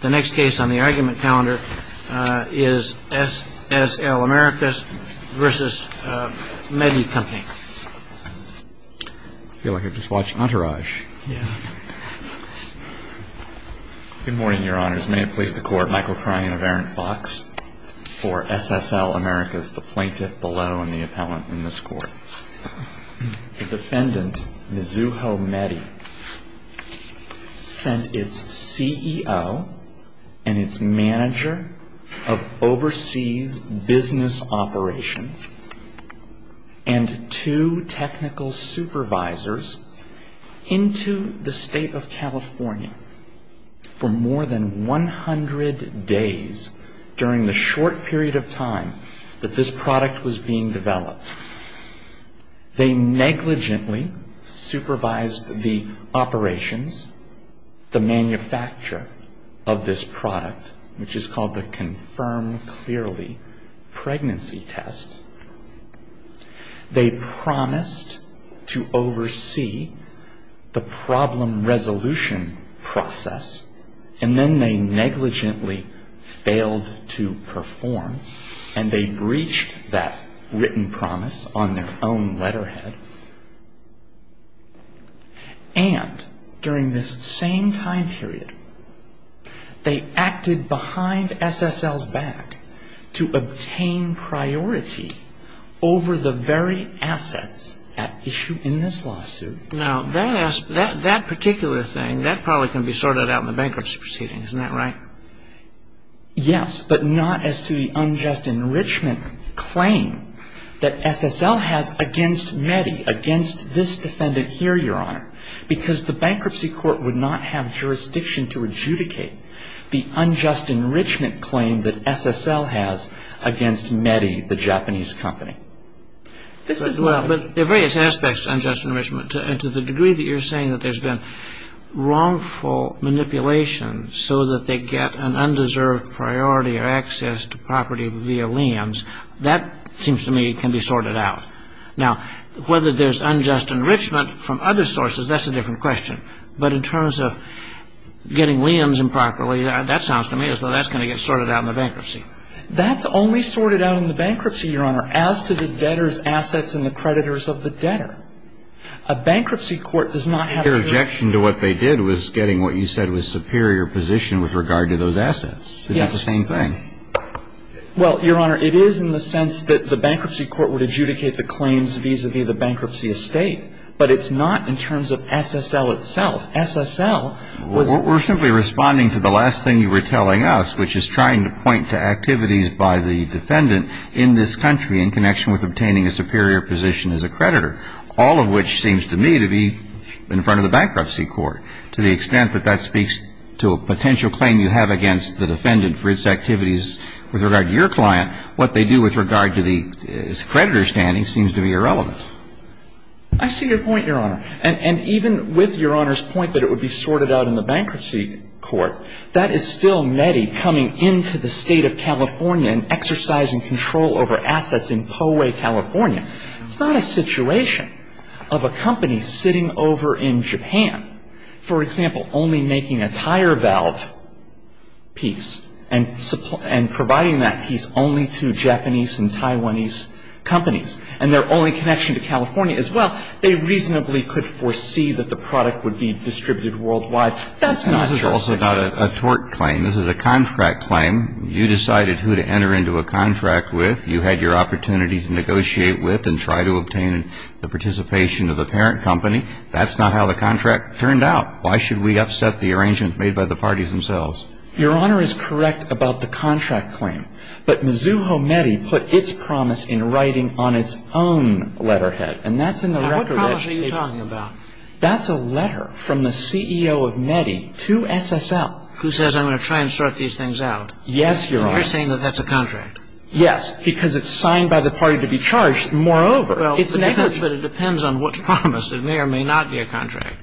The next case on the argument calendar is SSL Americas v. Medy Company. I feel like I've just watched Entourage. Yeah. Good morning, Your Honors. May it please the Court, Michael Kryan of Aaron Fox for SSL Americas, the plaintiff below and the appellant in this court. The defendant, Mizuho Medy, sent its CEO and its manager of overseas business operations and two technical supervisors into the state of California for more than 100 days during the short period of time that this product was being developed. They negligently supervised the operations, the manufacture of this product, which is called the Confirm Clearly Pregnancy Test. They promised to oversee the problem resolution process, and then they negligently failed to perform, and they breached that written promise on their own letterhead. And during this same time period, they acted behind SSL's back to obtain priority over the very assets at issue in this lawsuit. Now, that particular thing, that probably can be sorted out in the bankruptcy proceedings. Isn't that right? Yes, but not as to the unjust enrichment claim that SSL has against Medy, against this defendant here, Your Honor, because the bankruptcy court would not have jurisdiction to adjudicate the unjust enrichment claim that SSL has against Medy, the Japanese company. But there are various aspects to unjust enrichment, and to the degree that you're saying that there's been wrongful manipulation so that they get an undeserved priority or access to property via liam's, that seems to me can be sorted out. Now, whether there's unjust enrichment from other sources, that's a different question. But in terms of getting liam's improperly, that sounds to me as though that's going to get sorted out in the bankruptcy. That's only sorted out in the bankruptcy, Your Honor, as to the debtor's assets and the creditors of the debtor. A bankruptcy court does not have jurisdiction. The objection to what they did was getting what you said was superior position with regard to those assets. Yes. It's the same thing. Well, Your Honor, it is in the sense that the bankruptcy court would adjudicate the claims vis-a-vis the bankruptcy estate, but it's not in terms of SSL itself. SSL was the one. We're simply responding to the last thing you were telling us, which is trying to point to activities by the defendant in this country in connection with obtaining a superior position as a creditor, all of which seems to me to be in front of the bankruptcy court. To the extent that that speaks to a potential claim you have against the defendant for its activities with regard to your client, what they do with regard to the creditor's standing seems to be irrelevant. I see your point, Your Honor. And even with Your Honor's point that it would be sorted out in the bankruptcy court, that is still METI coming into the State of California and exercising control over assets in Poway, California. It's not a situation of a company sitting over in Japan, for example, only making a tire valve piece and providing that piece only to Japanese and Taiwanese companies and their only connection to California as well. They reasonably could foresee that the product would be distributed worldwide. That's not your situation. This is also not a tort claim. This is a contract claim. You decided who to enter into a contract with. You had your opportunity to negotiate with and try to obtain the participation of the parent company. That's not how the contract turned out. Why should we upset the arrangements made by the parties themselves? Your Honor is correct about the contract claim. But Mizuho METI put its promise in writing on its own letterhead. And that's in the record. What promise are you talking about? That's a letter from the CEO of METI to SSL. Who says, I'm going to try and sort these things out? Yes, Your Honor. And you're saying that that's a contract? Yes, because it's signed by the party to be charged. Moreover, it's negligent. But it depends on what's promised. It may or may not be a contract.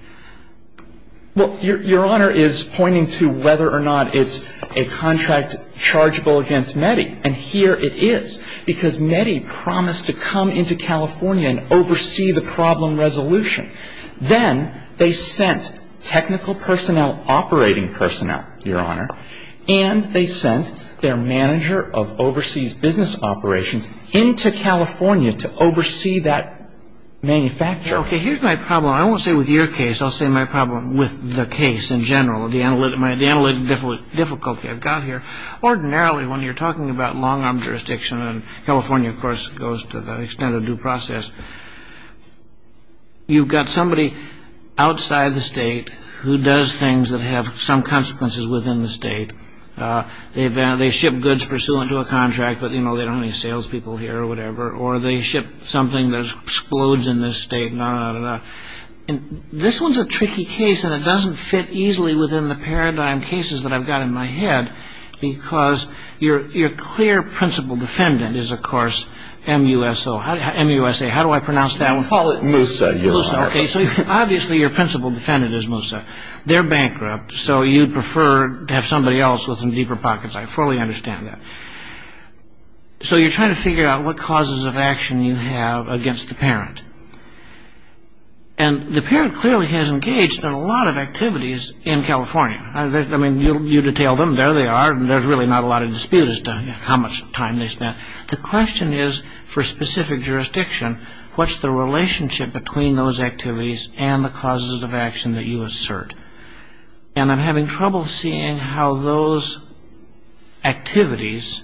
Well, Your Honor is pointing to whether or not it's a contract chargeable against METI. And here it is, because METI promised to come into California and oversee the problem resolution. Then they sent technical personnel, operating personnel, Your Honor, and they sent their manager of overseas business operations into California to oversee that manufacture. Okay, here's my problem. I won't say with your case. I'll say my problem with the case in general, the analytic difficulty I've got here. Ordinarily, when you're talking about long-arm jurisdiction, and California, of course, goes to the extent of due process, you've got somebody outside the state who does things that have some consequences within the state. They ship goods pursuant to a contract, but they don't have any salespeople here or whatever. Or they ship something that explodes in this state, and on and on and on. This one's a tricky case, and it doesn't fit easily within the paradigm cases that I've got in my head, because your clear principal defendant is, of course, MUSA. How do I pronounce that one? MUSA, Your Honor. MUSA, okay. So obviously your principal defendant is MUSA. They're bankrupt, so you'd prefer to have somebody else with some deeper pockets. I fully understand that. So you're trying to figure out what causes of action you have against the parent. And the parent clearly has engaged in a lot of activities in California. I mean, you detail them. There they are, and there's really not a lot of dispute as to how much time they spent. The question is, for specific jurisdiction, what's the relationship between those activities and the causes of action that you assert? And I'm having trouble seeing how those activities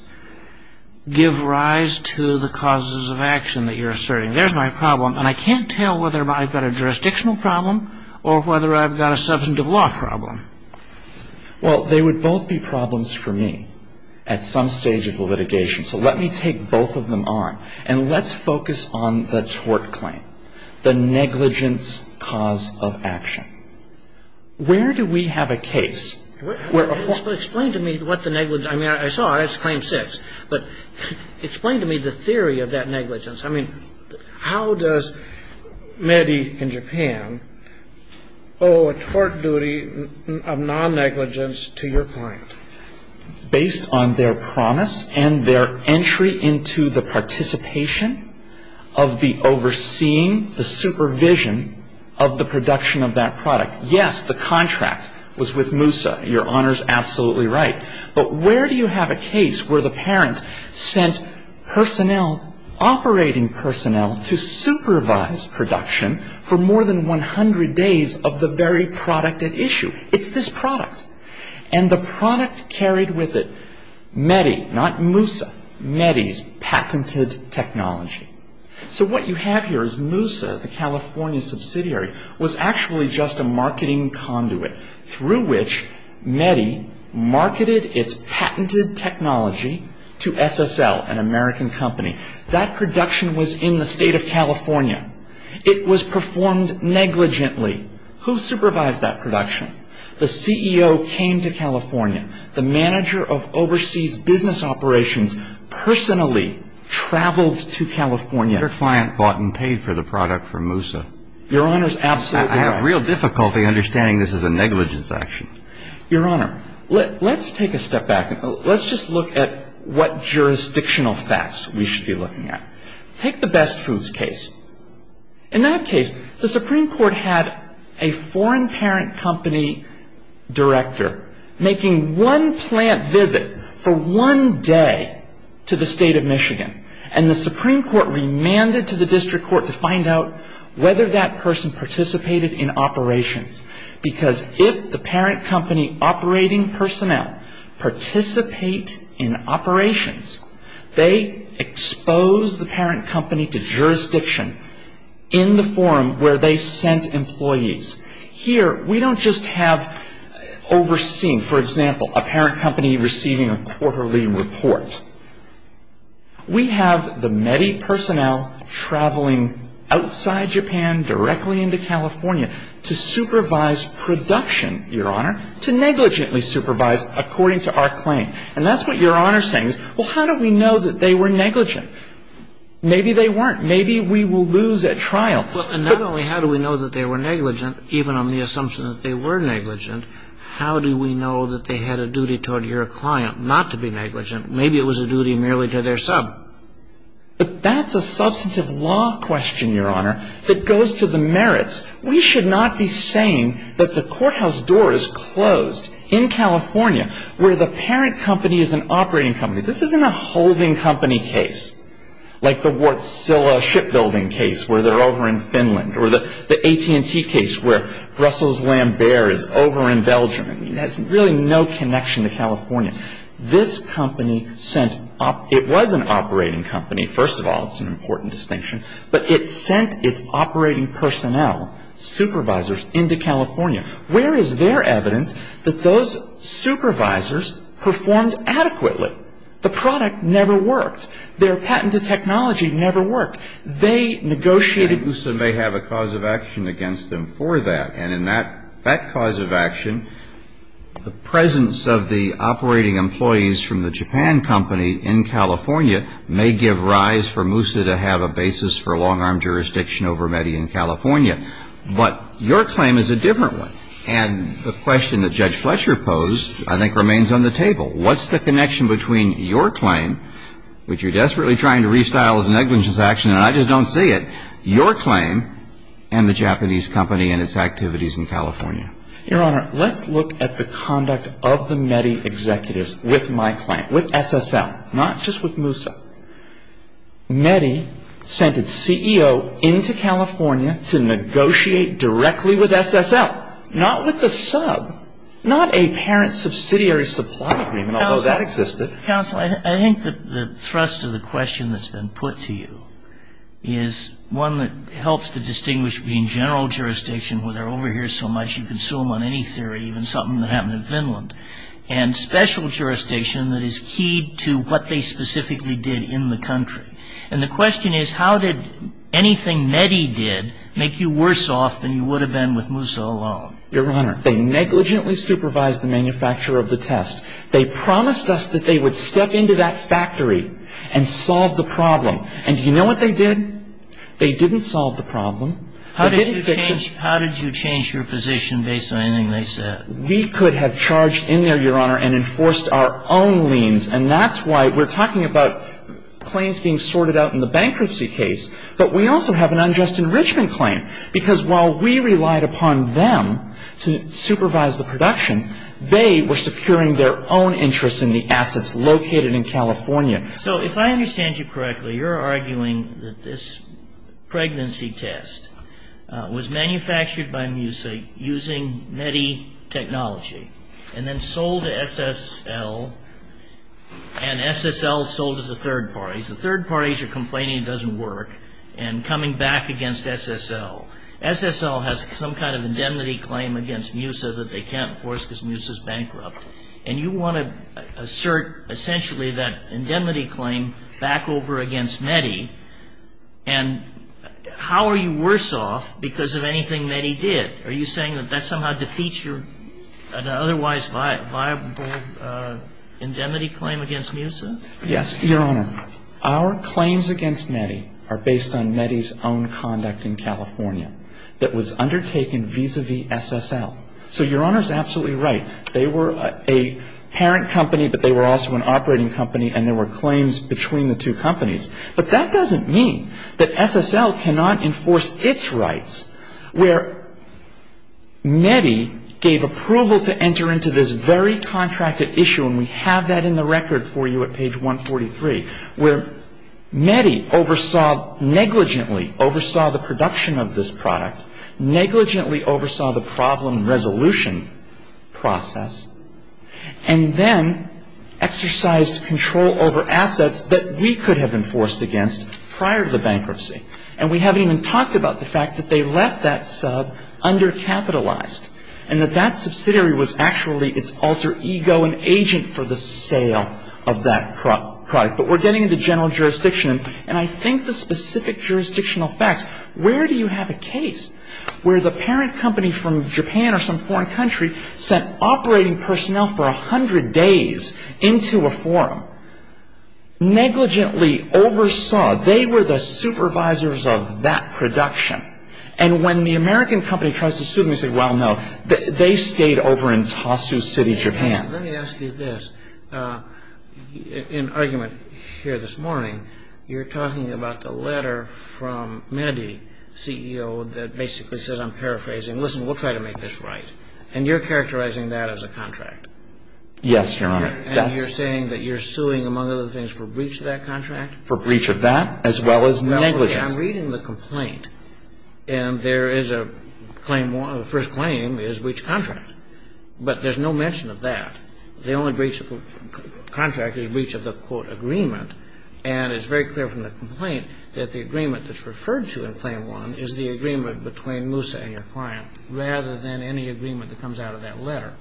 give rise to the causes of action that you're asserting. There's my problem, and I can't tell whether I've got a jurisdictional problem or whether I've got a substantive law problem. Well, they would both be problems for me at some stage of the litigation. So let me take both of them on. And let's focus on the tort claim, the negligence cause of action. Where do we have a case? Explain to me what the negligence. I mean, I saw it. It's Claim 6. But explain to me the theory of that negligence. I mean, how does Medi in Japan owe a tort duty of non-negligence to your client? Based on their promise and their entry into the participation of the overseeing, the supervision of the production of that product. Yes, the contract was with MUSA. Your Honor's absolutely right. But where do you have a case where the parent sent personnel, operating personnel, to supervise production for more than 100 days of the very product at issue? It's this product. And the product carried with it Medi, not MUSA, Medi's patented technology. So what you have here is MUSA, the California subsidiary, was actually just a marketing conduit through which Medi marketed its patented technology to SSL, an American company. That production was in the state of California. It was performed negligently. Who supervised that production? The CEO came to California. The manager of overseas business operations personally traveled to California. Your client bought and paid for the product from MUSA. Your Honor's absolutely right. I have real difficulty understanding this as a negligence action. Your Honor, let's take a step back. Let's just look at what jurisdictional facts we should be looking at. Take the Best Foods case. In that case, the Supreme Court had a foreign parent company director making one plant visit for one day to the state of Michigan. And the Supreme Court remanded to the district court to find out whether that person participated in operations. Because if the parent company operating personnel participate in operations, they expose the parent company to jurisdiction in the form where they sent employees. Here, we don't just have overseeing. For example, a parent company receiving a quarterly report. We have the Medi personnel traveling outside Japan, directly into California, to supervise production, Your Honor, to negligently supervise according to our claim. And that's what Your Honor is saying. Well, how do we know that they were negligent? Maybe they weren't. Maybe we will lose at trial. Well, and not only how do we know that they were negligent, even on the assumption that they were negligent, how do we know that they had a duty toward your client not to be negligent? Maybe it was a duty merely to their sub. But that's a substantive law question, Your Honor, that goes to the merits. We should not be saying that the courthouse door is closed in California where the parent company is an operating company. This isn't a holding company case like the Wärtsilä Shipbuilding case where they're over in Finland or the AT&T case where Russell's Lambert is over in Belgium. I mean, that's really no connection to California. This company sent up – it was an operating company. First of all, it's an important distinction. But it sent its operating personnel, supervisors, into California. Where is their evidence that those supervisors performed adequately? The product never worked. Their patented technology never worked. They negotiated. And Moussa may have a cause of action against them for that. And in that cause of action, the presence of the operating employees from the Japan company in California may give rise for Moussa to have a basis for long-arm jurisdiction over Meddy in California. But your claim is a different one. And the question that Judge Fletcher posed, I think, remains on the table. What's the connection between your claim, which you're desperately trying to restyle as an negligence action, and I just don't see it, your claim and the Japanese company and its activities in California? Your Honor, let's look at the conduct of the Meddy executives with my claim, with SSL, not just with Moussa. Meddy sent its CEO into California to negotiate directly with SSL. Not with the sub. Not a parent subsidiary supply agreement, although that existed. Counsel, I think the thrust of the question that's been put to you is one that helps to distinguish between general jurisdiction, where they're over here so much you can sue them on any theory, even something that happened in Finland, and special jurisdiction that is key to what they specifically did in the country. And the question is, how did anything Meddy did make you worse off than you would have been with Moussa alone? Your Honor, they negligently supervised the manufacturer of the test. They promised us that they would step into that factory and solve the problem. And do you know what they did? They didn't solve the problem. They didn't fix it. How did you change your position based on anything they said? We could have charged in there, Your Honor, and enforced our own liens. And that's why we're talking about claims being sorted out in the bankruptcy case. But we also have an unjust enrichment claim, because while we relied upon them to supervise the production, they were securing their own interests in the assets located in California. So if I understand you correctly, you're arguing that this pregnancy test was manufactured by Moussa using Meddy technology, and then sold to SSL, and SSL sold to the third parties. The third parties are complaining it doesn't work, and coming back against SSL. SSL has some kind of indemnity claim against Moussa that they can't enforce because Moussa's bankrupt. And you want to assert, essentially, that indemnity claim back over against Meddy. And how are you worse off because of anything Meddy did? Are you saying that that somehow defeats your otherwise viable indemnity claim against Moussa? Yes, Your Honor. Our claims against Meddy are based on Meddy's own conduct in California that was undertaken vis-à-vis SSL. So Your Honor's absolutely right. They were a parent company, but they were also an operating company, and there were claims between the two companies. But that doesn't mean that SSL cannot enforce its rights, where Meddy gave approval to enter into this very contracted issue, and we have that in the record for you at page 143, where Meddy oversaw negligently, oversaw the production of this product, negligently oversaw the problem resolution process, and then exercised control over assets that we could have enforced against prior to the bankruptcy. And we haven't even talked about the fact that they left that sub undercapitalized and that that subsidiary was actually its alter ego and agent for the sale of that product. But we're getting into general jurisdiction. And I think the specific jurisdictional facts, where do you have a case where the parent company from Japan or some foreign country sent operating personnel for 100 days into a forum, negligently oversaw, they were the supervisors of that production. And when the American company tries to sue them, they say, well, no, they stayed over in Tosu City, Japan. Let me ask you this. In argument here this morning, you're talking about the letter from Meddy, CEO, that basically says, I'm paraphrasing. Listen, we'll try to make this right. And you're characterizing that as a contract. Yes, Your Honor. And you're saying that you're suing, among other things, for breach of that contract? For breach of that, as well as negligence. I'm reading the complaint, and there is a claim, the first claim is breach of contract. But there's no mention of that. The only breach of contract is breach of the, quote, agreement. And it's very clear from the complaint that the agreement that's referred to in claim one is the agreement between Moussa and your client, rather than any agreement that comes out of that letter.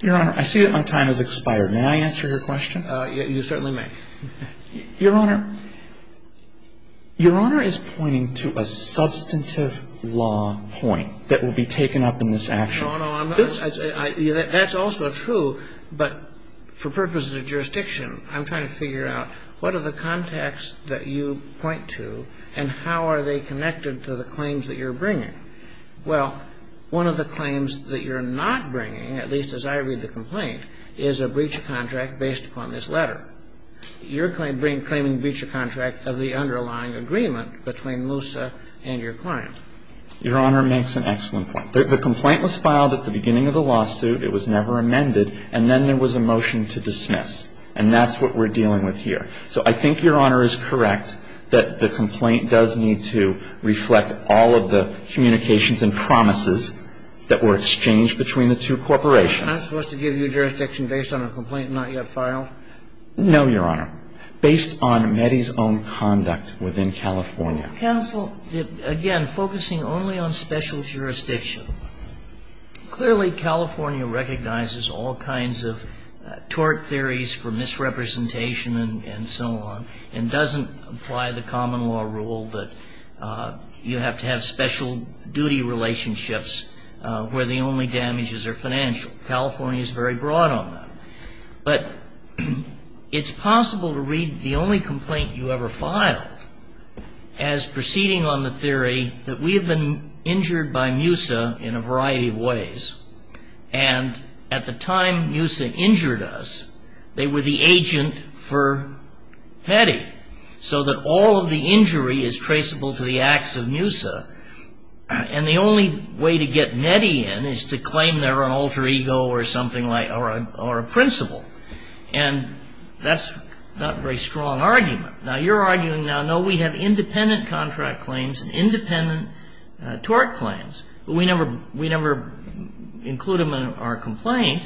Your Honor, I see that my time has expired. May I answer your question? You certainly may. Your Honor, Your Honor is pointing to a substantive law point that will be taken up in this action. No, no, I'm not. That's also true. But for purposes of jurisdiction, I'm trying to figure out what are the contexts that you point to, and how are they connected to the claims that you're bringing? Well, one of the claims that you're not bringing, at least as I read the complaint, is a breach of contract based upon this letter. You're claiming breach of contract of the underlying agreement between Moussa and your client. Your Honor makes an excellent point. The complaint was filed at the beginning of the lawsuit. It was never amended. And then there was a motion to dismiss. And that's what we're dealing with here. So I think, Your Honor, is correct that the complaint does need to reflect all of the communications and promises that were exchanged between the two corporations. Am I supposed to give you jurisdiction based on a complaint not yet filed? No, Your Honor. Based on Meddy's own conduct within California. Counsel, again, focusing only on special jurisdiction. Clearly, California recognizes all kinds of tort theories for misrepresentation and so on, and doesn't apply the common law rule that you have to have special duty relationships where the only damages are financial. California is very broad on that. But it's possible to read the only complaint you ever filed as proceeding on the theory that we have been injured by Moussa in a variety of ways. And at the time Moussa injured us, they were the agent for Meddy. So that all of the injury is traceable to the acts of Moussa. And the only way to get Meddy in is to claim they're an alter ego or something like or a principal. And that's not a very strong argument. Now, you're arguing now, no, we have independent contract claims and independent tort claims. But we never include them in our complaint.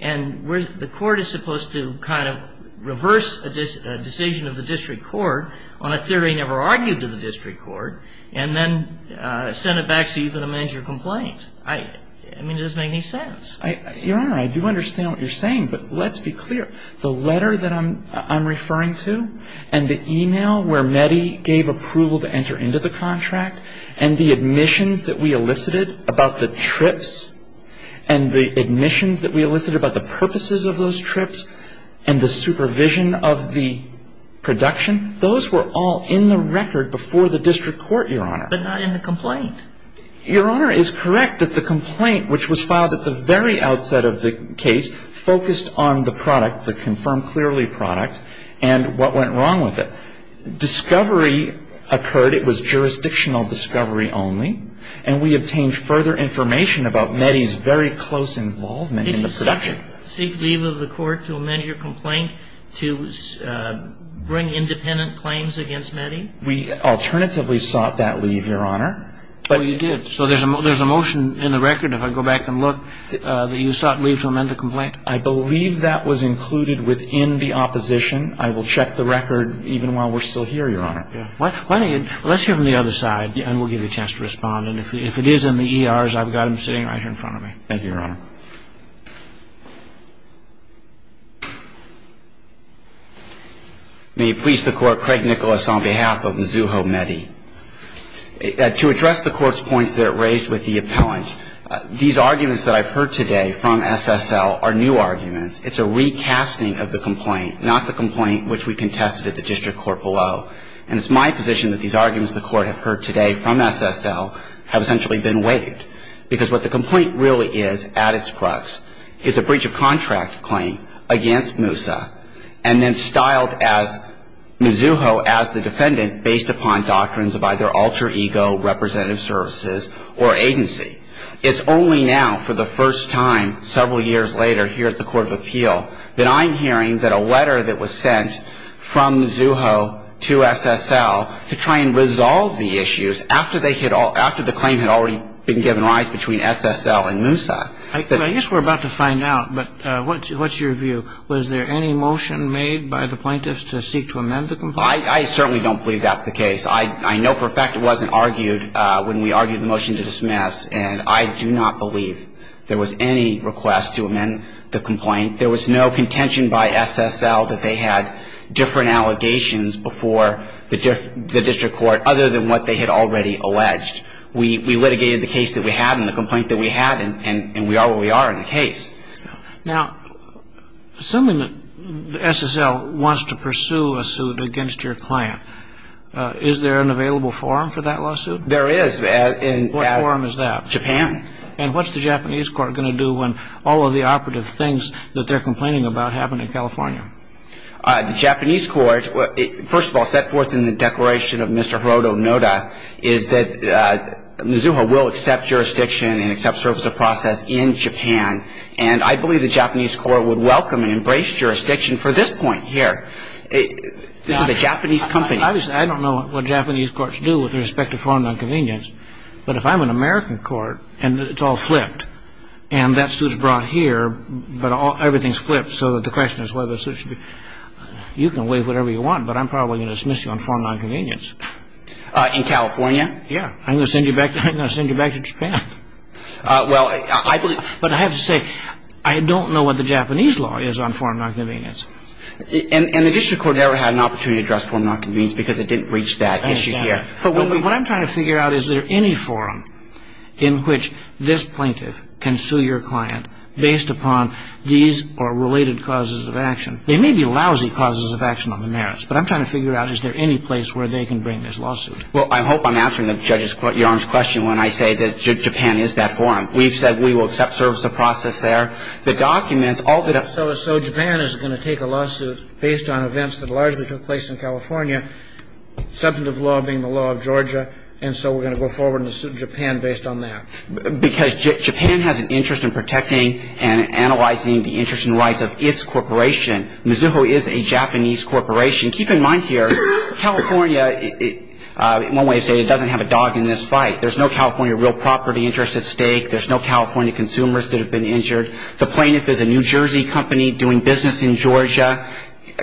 And the court is supposed to kind of reverse a decision of the district court on a theory never argued to the district court and then send it back so you can amend your complaint. I mean, it doesn't make any sense. Your Honor, I do understand what you're saying. But let's be clear. The letter that I'm referring to and the e-mail where Meddy gave approval to enter into the contract and the admissions that we elicited about the trips and the admissions that we elicited about the purposes of those trips and the supervision of the production, those were all in the record before the district court, Your Honor. But not in the complaint. Your Honor is correct that the complaint which was filed at the very outset of the case focused on the product, the confirmed clearly product, and what went wrong with it. Discovery occurred. It was jurisdictional discovery only. And we obtained further information about Meddy's very close involvement in the production. Did you seek leave of the court to amend your complaint to bring independent claims against Meddy? We alternatively sought that leave, Your Honor. Oh, you did. So there's a motion in the record, if I go back and look, that you sought leave to amend the complaint. I believe that was included within the opposition. I will check the record even while we're still here, Your Honor. Let's hear from the other side, and we'll give you a chance to respond. And if it is in the ERs, I've got them sitting right here in front of me. Thank you, Your Honor. May it please the Court, Craig Nicholas on behalf of Mizzouho Meddy. To address the Court's points that it raised with the appellant, these arguments that I've heard today from SSL are new arguments. It's a recasting of the complaint, not the complaint which we contested at the district court below. And it's my position that these arguments the Court have heard today from SSL have essentially been waived, because what the complaint really is at its crux is a breach of contract claim against Moussa, and then styled as Mizzouho as the defendant based upon doctrines of either alter ego, representative services, or agency. It's only now for the first time several years later here at the Court of Appeal that I'm hearing that a letter that was sent from Mizzouho to SSL to try and resolve the issues after the claim had already been given rise between SSL and Moussa. I guess we're about to find out, but what's your view? Was there any motion made by the plaintiffs to seek to amend the complaint? I certainly don't believe that's the case. I know for a fact it wasn't argued when we argued the motion to dismiss, and I do not believe there was any request to amend the complaint. There was no contention by SSL that they had different allegations before the district court other than what they had already alleged. We litigated the case that we had and the complaint that we had, and we are where we are in the case. Now, assuming that SSL wants to pursue a suit against your client, is there an available forum for that lawsuit? There is. What forum is that? Japan. And what's the Japanese court going to do when all of the operative things that they're complaining about happen in California? The Japanese court, first of all, set forth in the declaration of Mr. Hiroto Noda, is that Mizuha will accept jurisdiction and accept service of process in Japan, and I believe the Japanese court would welcome and embrace jurisdiction for this point here. This is a Japanese company. Obviously, I don't know what Japanese courts do with respect to foreign nonconvenience, but if I'm an American court and it's all flipped, and that suit's brought here, but everything's flipped so that the question is whether the suit should be, you can waive whatever you want, but I'm probably going to dismiss you on foreign nonconvenience. In California? Yeah. I'm going to send you back to Japan. But I have to say, I don't know what the Japanese law is on foreign nonconvenience. And the district court never had an opportunity to address foreign nonconvenience because it didn't reach that issue here. But what I'm trying to figure out, is there any forum in which this plaintiff can sue your client based upon these or related causes of action? They may be lousy causes of action on the merits, but I'm trying to figure out is there any place where they can bring this lawsuit? Well, I hope I'm answering the judge's question when I say that Japan is that forum. We've said we will accept service of process there. The documents, all that I've said is so Japan is going to take a lawsuit based on events that largely took place in California, substantive law being the law of Georgia, and so we're going to go forward and sue Japan based on that. Because Japan has an interest in protecting and analyzing the interests and rights of its corporation. Mizuho is a Japanese corporation. Keep in mind here, California, in one way or another, doesn't have a dog in this fight. There's no California real property interest at stake. There's no California consumers that have been injured. The plaintiff is a New Jersey company doing business in Georgia.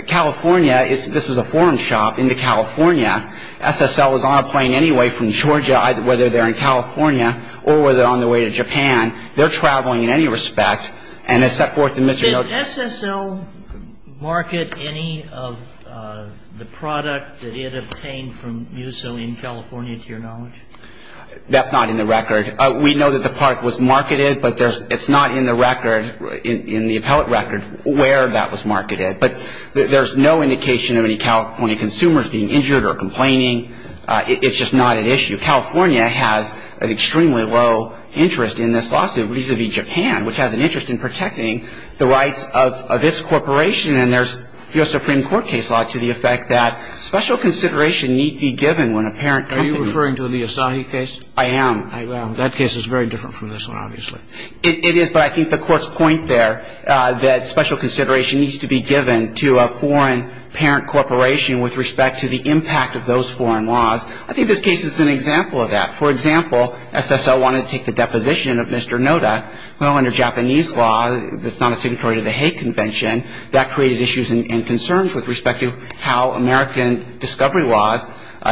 California, this is a foreign shop into California. SSL is on a plane anyway from Georgia, whether they're in California or whether they're on their way to Japan. They're traveling in any respect. And it's set forth in Mr. Mizuho's case. Sotomayor, did SSL market any of the product that it obtained from Muzo in California, to your knowledge? That's not in the record. We know that the product was marketed, but it's not in the record, in the appellate record, where that was marketed. But there's no indication of any California consumers being injured or complaining. It's just not an issue. California has an extremely low interest in this lawsuit vis-à-vis Japan, which has an interest in protecting the rights of its corporation. And there's U.S. Supreme Court case law to the effect that special consideration need be given when a parent company ---- Are you referring to the Asahi case? I am. That case is very different from this one, obviously. It is, but I think the Court's point there that special consideration needs to be given to a foreign parent corporation with respect to the impact of those foreign laws. I think this case is an example of that. For example, SSL wanted to take the deposition of Mr. Noda. Well, under Japanese law, that's not a signatory to the Hague Convention, that created issues and concerns with respect to how American discovery laws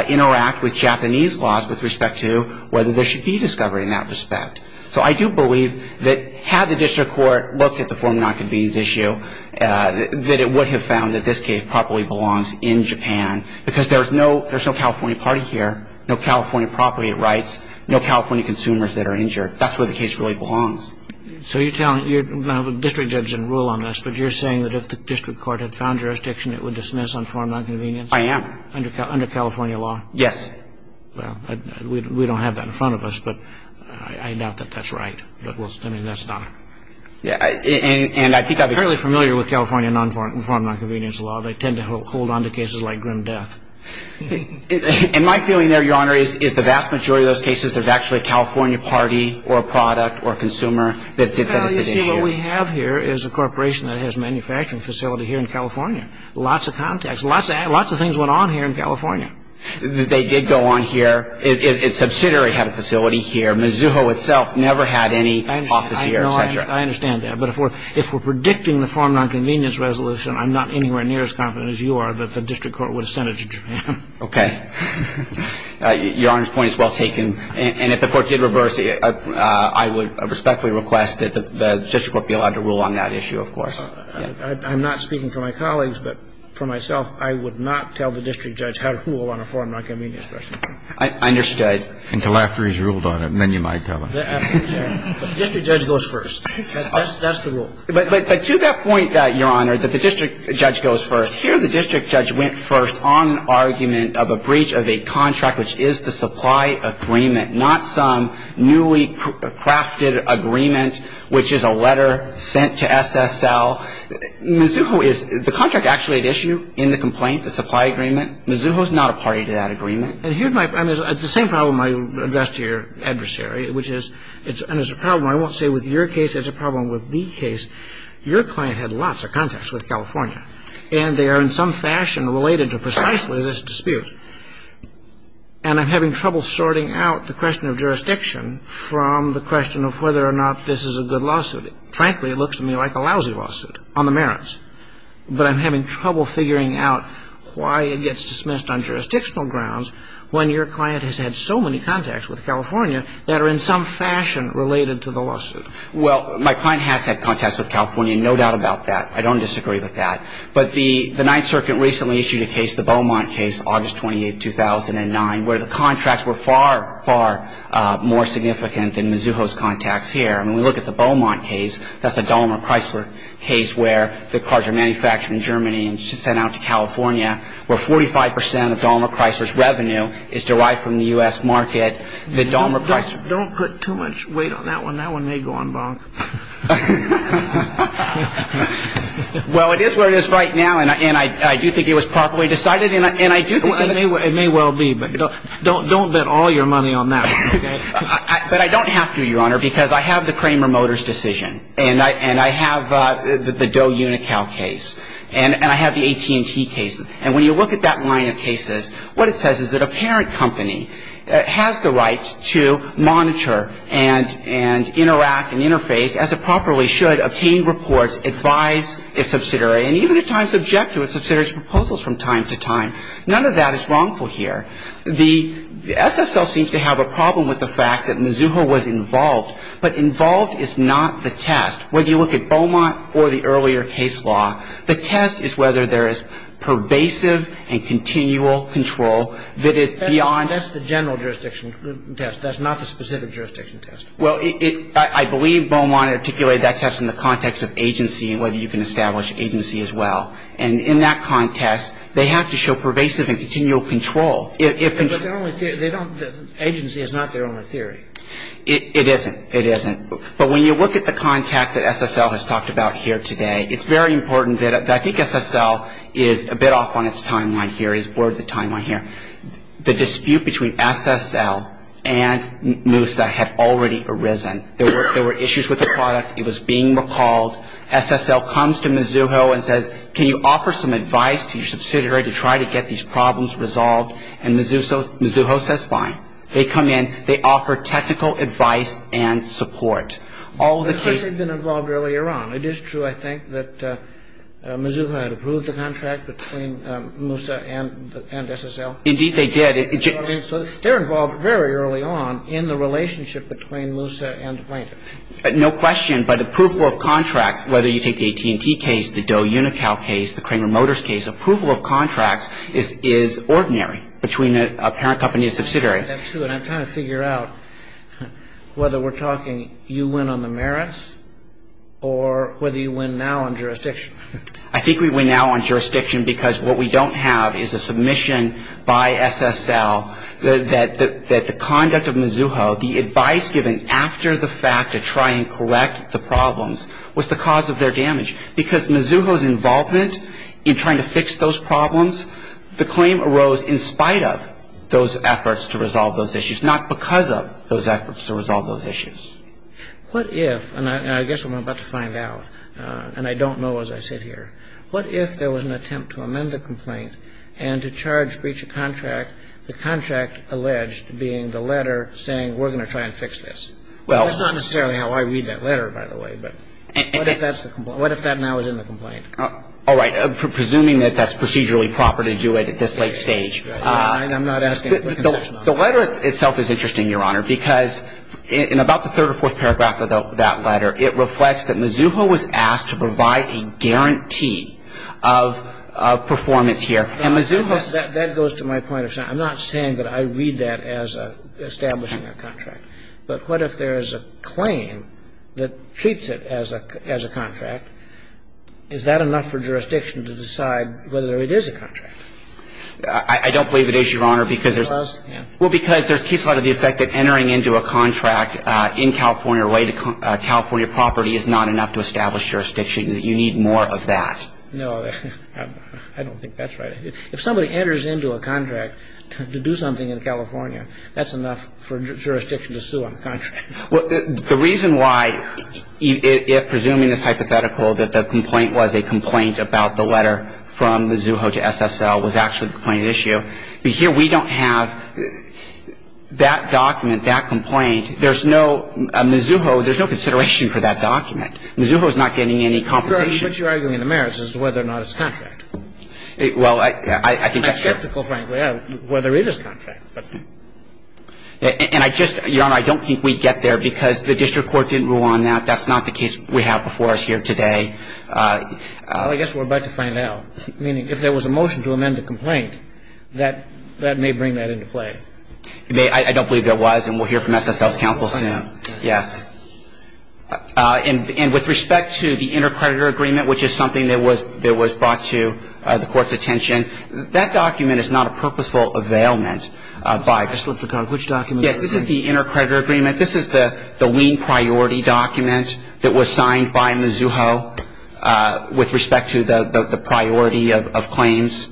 interact with Japanese laws with respect to whether there should be discovery in that respect. So I do believe that had the district court looked at the form of nonconvenience issue, that it would have found that this case properly belongs in Japan, because there's no California party here, no California property rights, no California consumers that are injured. That's where the case really belongs. So you're telling me you're not a district judge in rule on this, but you're saying that if the district court had found jurisdiction, it would dismiss on form of nonconvenience? I am. Under California law? Yes. Well, we don't have that in front of us, but I doubt that that's right. I mean, that's not ---- And I think I'm fairly familiar with California nonform of nonconvenience law. They tend to hold on to cases like grim death. And my feeling there, Your Honor, is the vast majority of those cases, there's actually a California party or product or consumer that's at issue. Well, you see, what we have here is a corporation that has a manufacturing facility here in California. Lots of contacts. Lots of things went on here in California. They did go on here. Its subsidiary had a facility here. Mizuho itself never had any office here, et cetera. I understand that. But if we're predicting the form of nonconvenience resolution, I'm not anywhere near as confident as you are that the district court would have sent it to Japan. Okay. Your Honor's point is well taken. And if the Court did reverse it, I would respectfully request that the district court be allowed to rule on that issue, of course. I'm not speaking for my colleagues, but for myself, I would not tell the district judge how to rule on a form of nonconvenience resolution. I understood. Until after he's ruled on it, and then you might tell him. Absolutely. The district judge goes first. That's the rule. But to that point, Your Honor, that the district judge goes first, here the district judge went first on an argument of a breach of a contract which is the supply agreement, not some newly crafted agreement which is a letter sent to SSL. Mizuho is the contract actually at issue in the complaint, the supply agreement. Mizuho is not a party to that agreement. And here's my problem. It's the same problem I addressed to your adversary, which is it's a problem, I won't say with your case, it's a problem with the case. Your client had lots of contacts with California. And they are in some fashion related to precisely this dispute. And I'm having trouble sorting out the question of jurisdiction from the question of whether or not this is a good lawsuit. Frankly, it looks to me like a lousy lawsuit on the merits. But I'm having trouble figuring out why it gets dismissed on jurisdictional grounds when your client has had so many contacts with California that are in some fashion related to the lawsuit. Well, my client has had contacts with California, no doubt about that. I don't disagree with that. But the Ninth Circuit recently issued a case, the Beaumont case, August 28, 2009, where the contracts were far, far more significant than Mizuho's contacts here. And when we look at the Beaumont case, that's a Dahmer Chrysler case where the cars are manufactured in Germany and sent out to California where 45 percent of Dahmer Chrysler's revenue is derived from the U.S. market. The Dahmer Chrysler. Don't put too much weight on that one. That one may go on bonk. Well, it is where it is right now, and I do think it was properly decided. And I do think it may well be. But don't bet all your money on that one, okay? But I don't have to, Your Honor, because I have the Kramer Motors decision. And I have the Doe Unocal case. And I have the AT&T case. And when you look at that line of cases, what it says is that a parent company has the right to monitor and interact and interface as it properly should, obtain reports, advise its subsidiary, and even at times object to its subsidiary's proposals from time to time. None of that is wrongful here. The SSL seems to have a problem with the fact that Mizuho was involved. But involved is not the test. When you look at Beaumont or the earlier case law, the test is whether there is pervasive and continual control that is beyond. That's the general jurisdiction test. That's not the specific jurisdiction test. Well, I believe Beaumont articulated that test in the context of agency and whether you can establish agency as well. And in that context, they have to show pervasive and continual control. But agency is not their only theory. It isn't. It isn't. But when you look at the context that SSL has talked about here today, it's very important that I think SSL is a bit off on its timeline here, is bored of the timeline here. I mean, the dispute between SSL and Moosa had already arisen. There were issues with the product. It was being recalled. SSL comes to Mizuho and says, can you offer some advice to your subsidiary to try to get these problems resolved? And Mizuho says fine. They come in. They offer technical advice and support. All of the cases. But of course they've been involved earlier on. It is true, I think, that Mizuho had approved the contract between Moosa and SSL. Indeed, they did. They're involved very early on in the relationship between Moosa and the plaintiff. No question. But approval of contracts, whether you take the AT&T case, the Doe Unical case, the Kramer Motors case, approval of contracts is ordinary between a parent company and a subsidiary. That's true. I'm trying to figure out whether we're talking you win on the merits or whether you win now on jurisdiction. I think we win now on jurisdiction because what we don't have is a submission by SSL that the conduct of Mizuho, the advice given after the fact to try and correct the problems, was the cause of their damage. Because Mizuho's involvement in trying to fix those problems, the claim arose in spite of those efforts to resolve those issues, not because of those efforts to resolve those issues. What if, and I guess what I'm about to find out, and I don't know as I sit here, what if there was an attempt to amend the complaint and to charge breach of contract, the contract alleged being the letter saying we're going to try and fix this? That's not necessarily how I read that letter, by the way. But what if that's the complaint? What if that now is in the complaint? All right. Presuming that that's procedurally proper to do it at this late stage. I'm not asking for a concession on that. The letter itself is interesting, Your Honor, because in about the third or fourth paragraph of that letter, it reflects that Mizuho was asked to provide a guarantee of performance here. And Mizuho's ---- That goes to my point, Your Honor. I'm not saying that I read that as establishing a contract. But what if there is a claim that treats it as a contract? Is that enough for jurisdiction to decide whether it is a contract? I don't believe it is, Your Honor, because there's ---- It was? Yes. Well, because there's a case law to the effect that entering into a contract in California, right at California property, is not enough to establish jurisdiction. You need more of that. No. I don't think that's right. If somebody enters into a contract to do something in California, that's enough for jurisdiction to sue on the contract. Well, the reason why, if presuming it's hypothetical that the complaint was a complaint about the letter from Mizuho to SSL was actually the complaint at issue, but here we don't have that document, that complaint. There's no ---- Mizuho, there's no consideration for that document. Mizuho is not getting any compensation. But you're arguing the merits as to whether or not it's a contract. Well, I think that's true. I'm skeptical, frankly, whether it is a contract. And I just, Your Honor, I don't think we get there because the district court didn't rule on that. That's not the case we have before us here today. Well, I guess we're about to find out. Meaning if there was a motion to amend the complaint, that may bring that into play. I don't believe there was, and we'll hear from SSL's counsel soon. Yes. And with respect to the intercreditor agreement, which is something that was brought to the Court's attention, that document is not a purposeful availment by ---- Which document? Yes, this is the intercreditor agreement. This is the lien priority document that was signed by Mizuho with respect to the priority of claims.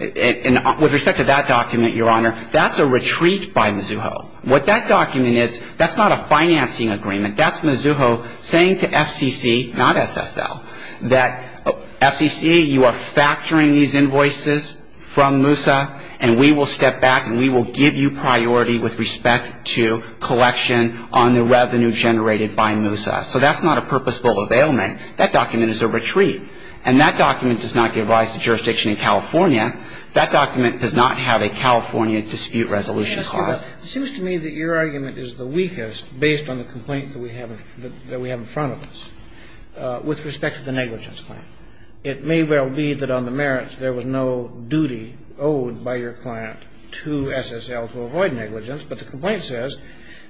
And with respect to that document, Your Honor, that's a retreat by Mizuho. What that document is, that's not a financing agreement. That's Mizuho saying to FCC, not SSL, that FCC, you are factoring these invoices from MUSA, and we will step back and we will give you priority with respect to collection on the revenue generated by MUSA. So that's not a purposeful availment. That document is a retreat. And that document does not give rise to jurisdiction in California. That document does not have a California dispute resolution clause. It seems to me that your argument is the weakest based on the complaint that we have in front of us with respect to the negligence claim. It may well be that on the merits there was no duty owed by your client to SSL to avoid negligence. But the complaint says,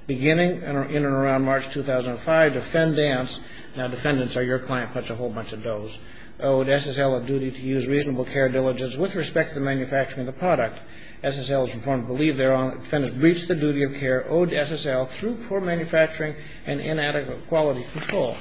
beginning in and around March 2005, defendants ---- now defendants are your client, but it's a whole bunch of does ---- owed SSL a duty to use reasonable care diligence with respect to the manufacturing of the product. SSL was informed to believe thereof. Defendants breached the duty of care owed to SSL through poor manufacturing and inadequate quality control.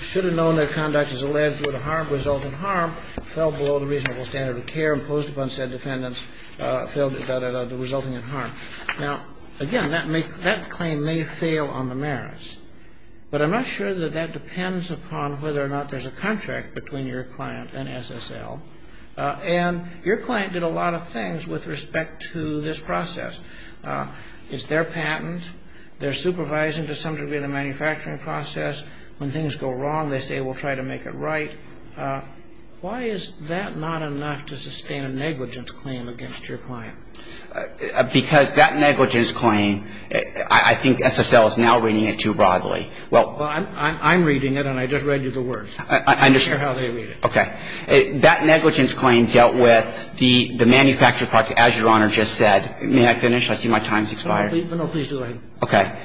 Should have known that conduct as alleged would result in harm, fell below the reasonable standard of care imposed upon said defendants, resulting in harm. Now, again, that claim may fail on the merits. But I'm not sure that that depends upon whether or not there's a contract between your client and SSL. And your client did a lot of things with respect to this process. It's their patent. They're supervising to some degree the manufacturing process. When things go wrong, they say we'll try to make it right. Why is that not enough to sustain a negligence claim against your client? Because that negligence claim, I think SSL is now reading it too broadly. Well, I'm reading it, and I just read you the words. I'm not sure how they read it. Okay. That negligence claim dealt with the manufacturing process, as Your Honor just said. May I finish? I see my time has expired. No, please do. Okay.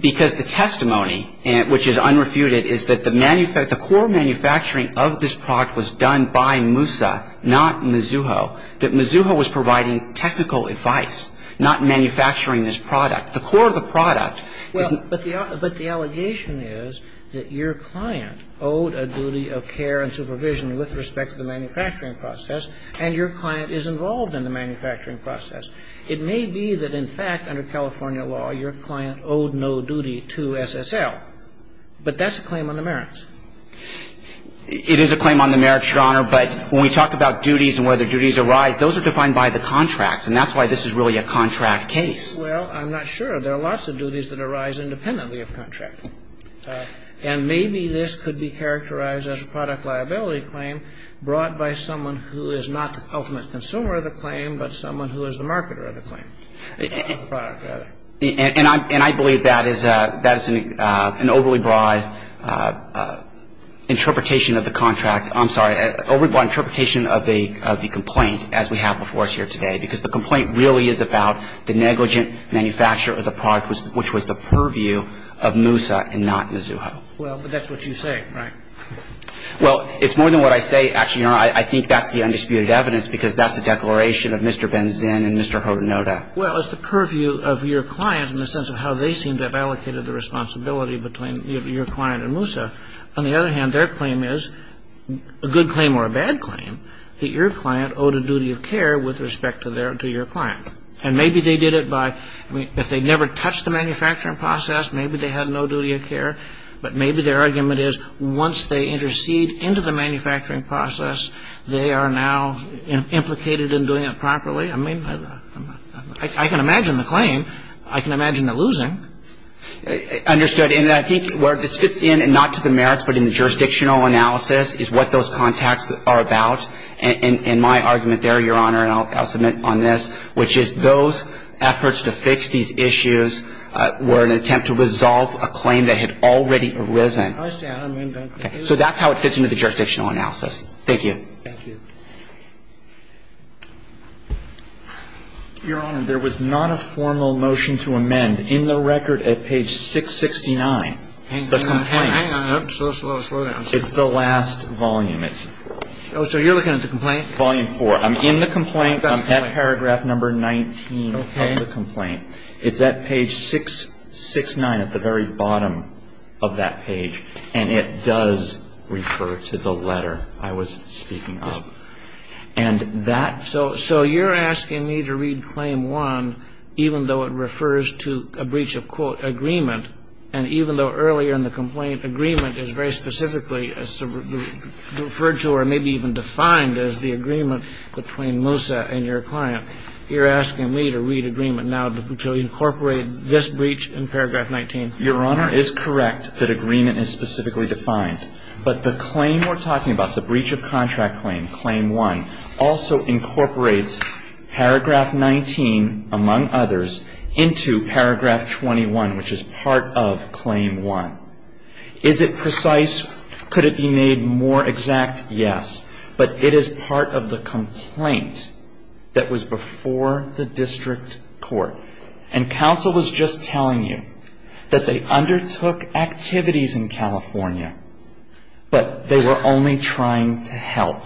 Because the testimony, which is unrefuted, is that the core manufacturing of this product was done by Moussa, not Mizzouho, that Mizzouho was providing technical advice, not manufacturing this product. The core of the product is not the manufacturing of this product. Well, but the allegation is that your client owed a duty of care and supervision with respect to the manufacturing process, and your client is involved in the manufacturing process. It may be that, in fact, under California law, your client owed no duty to SSL, but that's a claim on the merits. It is a claim on the merits, Your Honor, but when we talk about duties and where the duties arise, those are defined by the contracts, and that's why this is really a contract case. Well, I'm not sure. There are lots of duties that arise independently of contract. And maybe this could be characterized as a product liability claim brought by someone who is not the ultimate consumer of the claim, but someone who is the marketer of the claim. And I believe that is an overly broad interpretation of the contract. I'm sorry, an overly broad interpretation of the complaint as we have before us here today, because the complaint really is about the negligent manufacturer of the product, which was the purview of Moosa and not Mizuho. Well, but that's what you say. Right. Well, it's more than what I say, actually, Your Honor. I think that's the undisputed evidence because that's the declaration of Mr. Benzin and Mr. Hortenota. Well, it's the purview of your client in the sense of how they seem to have allocated the responsibility between your client and Moosa. On the other hand, their claim is a good claim or a bad claim that your client owed a duty of care with respect to your client. And maybe they did it by, I mean, if they never touched the manufacturing process, maybe they had no duty of care. But maybe their argument is once they intercede into the manufacturing process, they are now implicated in doing it properly. I mean, I can imagine the claim. I can imagine the losing. Understood. And I think where this fits in, and not to the merits, but in the jurisdictional analysis, is what those contacts are about. And my argument there, Your Honor, and I'll submit on this, which is those efforts to fix these issues were an attempt to resolve a claim that had already arisen. I understand. I mean, that's the case. So that's how it fits into the jurisdictional analysis. Thank you. Thank you. Your Honor, there was not a formal motion to amend in the record at page 669. Hang on. Hang on. Slow, slow, slow down. It's the last volume. Oh, so you're looking at the complaint? Volume 4. I'm in the complaint. I'm at paragraph number 19 of the complaint. It's at page 669 at the very bottom of that page. And it does refer to the letter I was speaking of. So you're asking me to read Claim 1 even though it refers to a breach of, quote, agreement, and even though earlier in the complaint agreement is very specifically referred to or maybe even defined as the agreement between Moussa and your client, you're asking me to read agreement now to incorporate this breach in paragraph 19. Your Honor, it is correct that agreement is specifically defined. But the claim we're talking about, the breach of contract claim, Claim 1, also incorporates paragraph 19, among others, into paragraph 21, which is part of Claim 1. Is it precise? Could it be made more exact? Yes. But it is part of the complaint that was before the district court. And counsel was just telling you that they undertook activities in California, but they were only trying to help.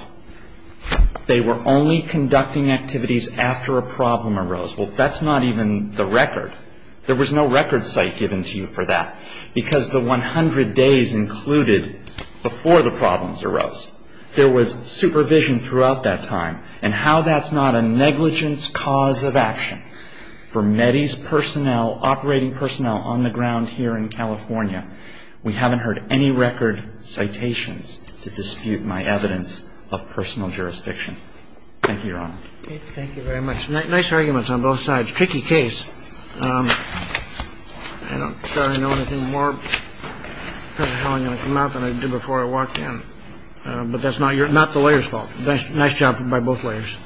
They were only conducting activities after a problem arose. Well, that's not even the record. There was no record site given to you for that. Because the 100 days included before the problems arose, there was supervision throughout that time, and how that's not a negligence cause of action. For MEDI's personnel, operating personnel on the ground here in California, we haven't heard any record citations to dispute my evidence of personal jurisdiction. Thank you, Your Honor. Thank you very much. Nice arguments on both sides. Tricky case. I'm not sure I know anything more about how I'm going to come out than I did before I walked in. But that's not the lawyer's fault. Nice job by both lawyers.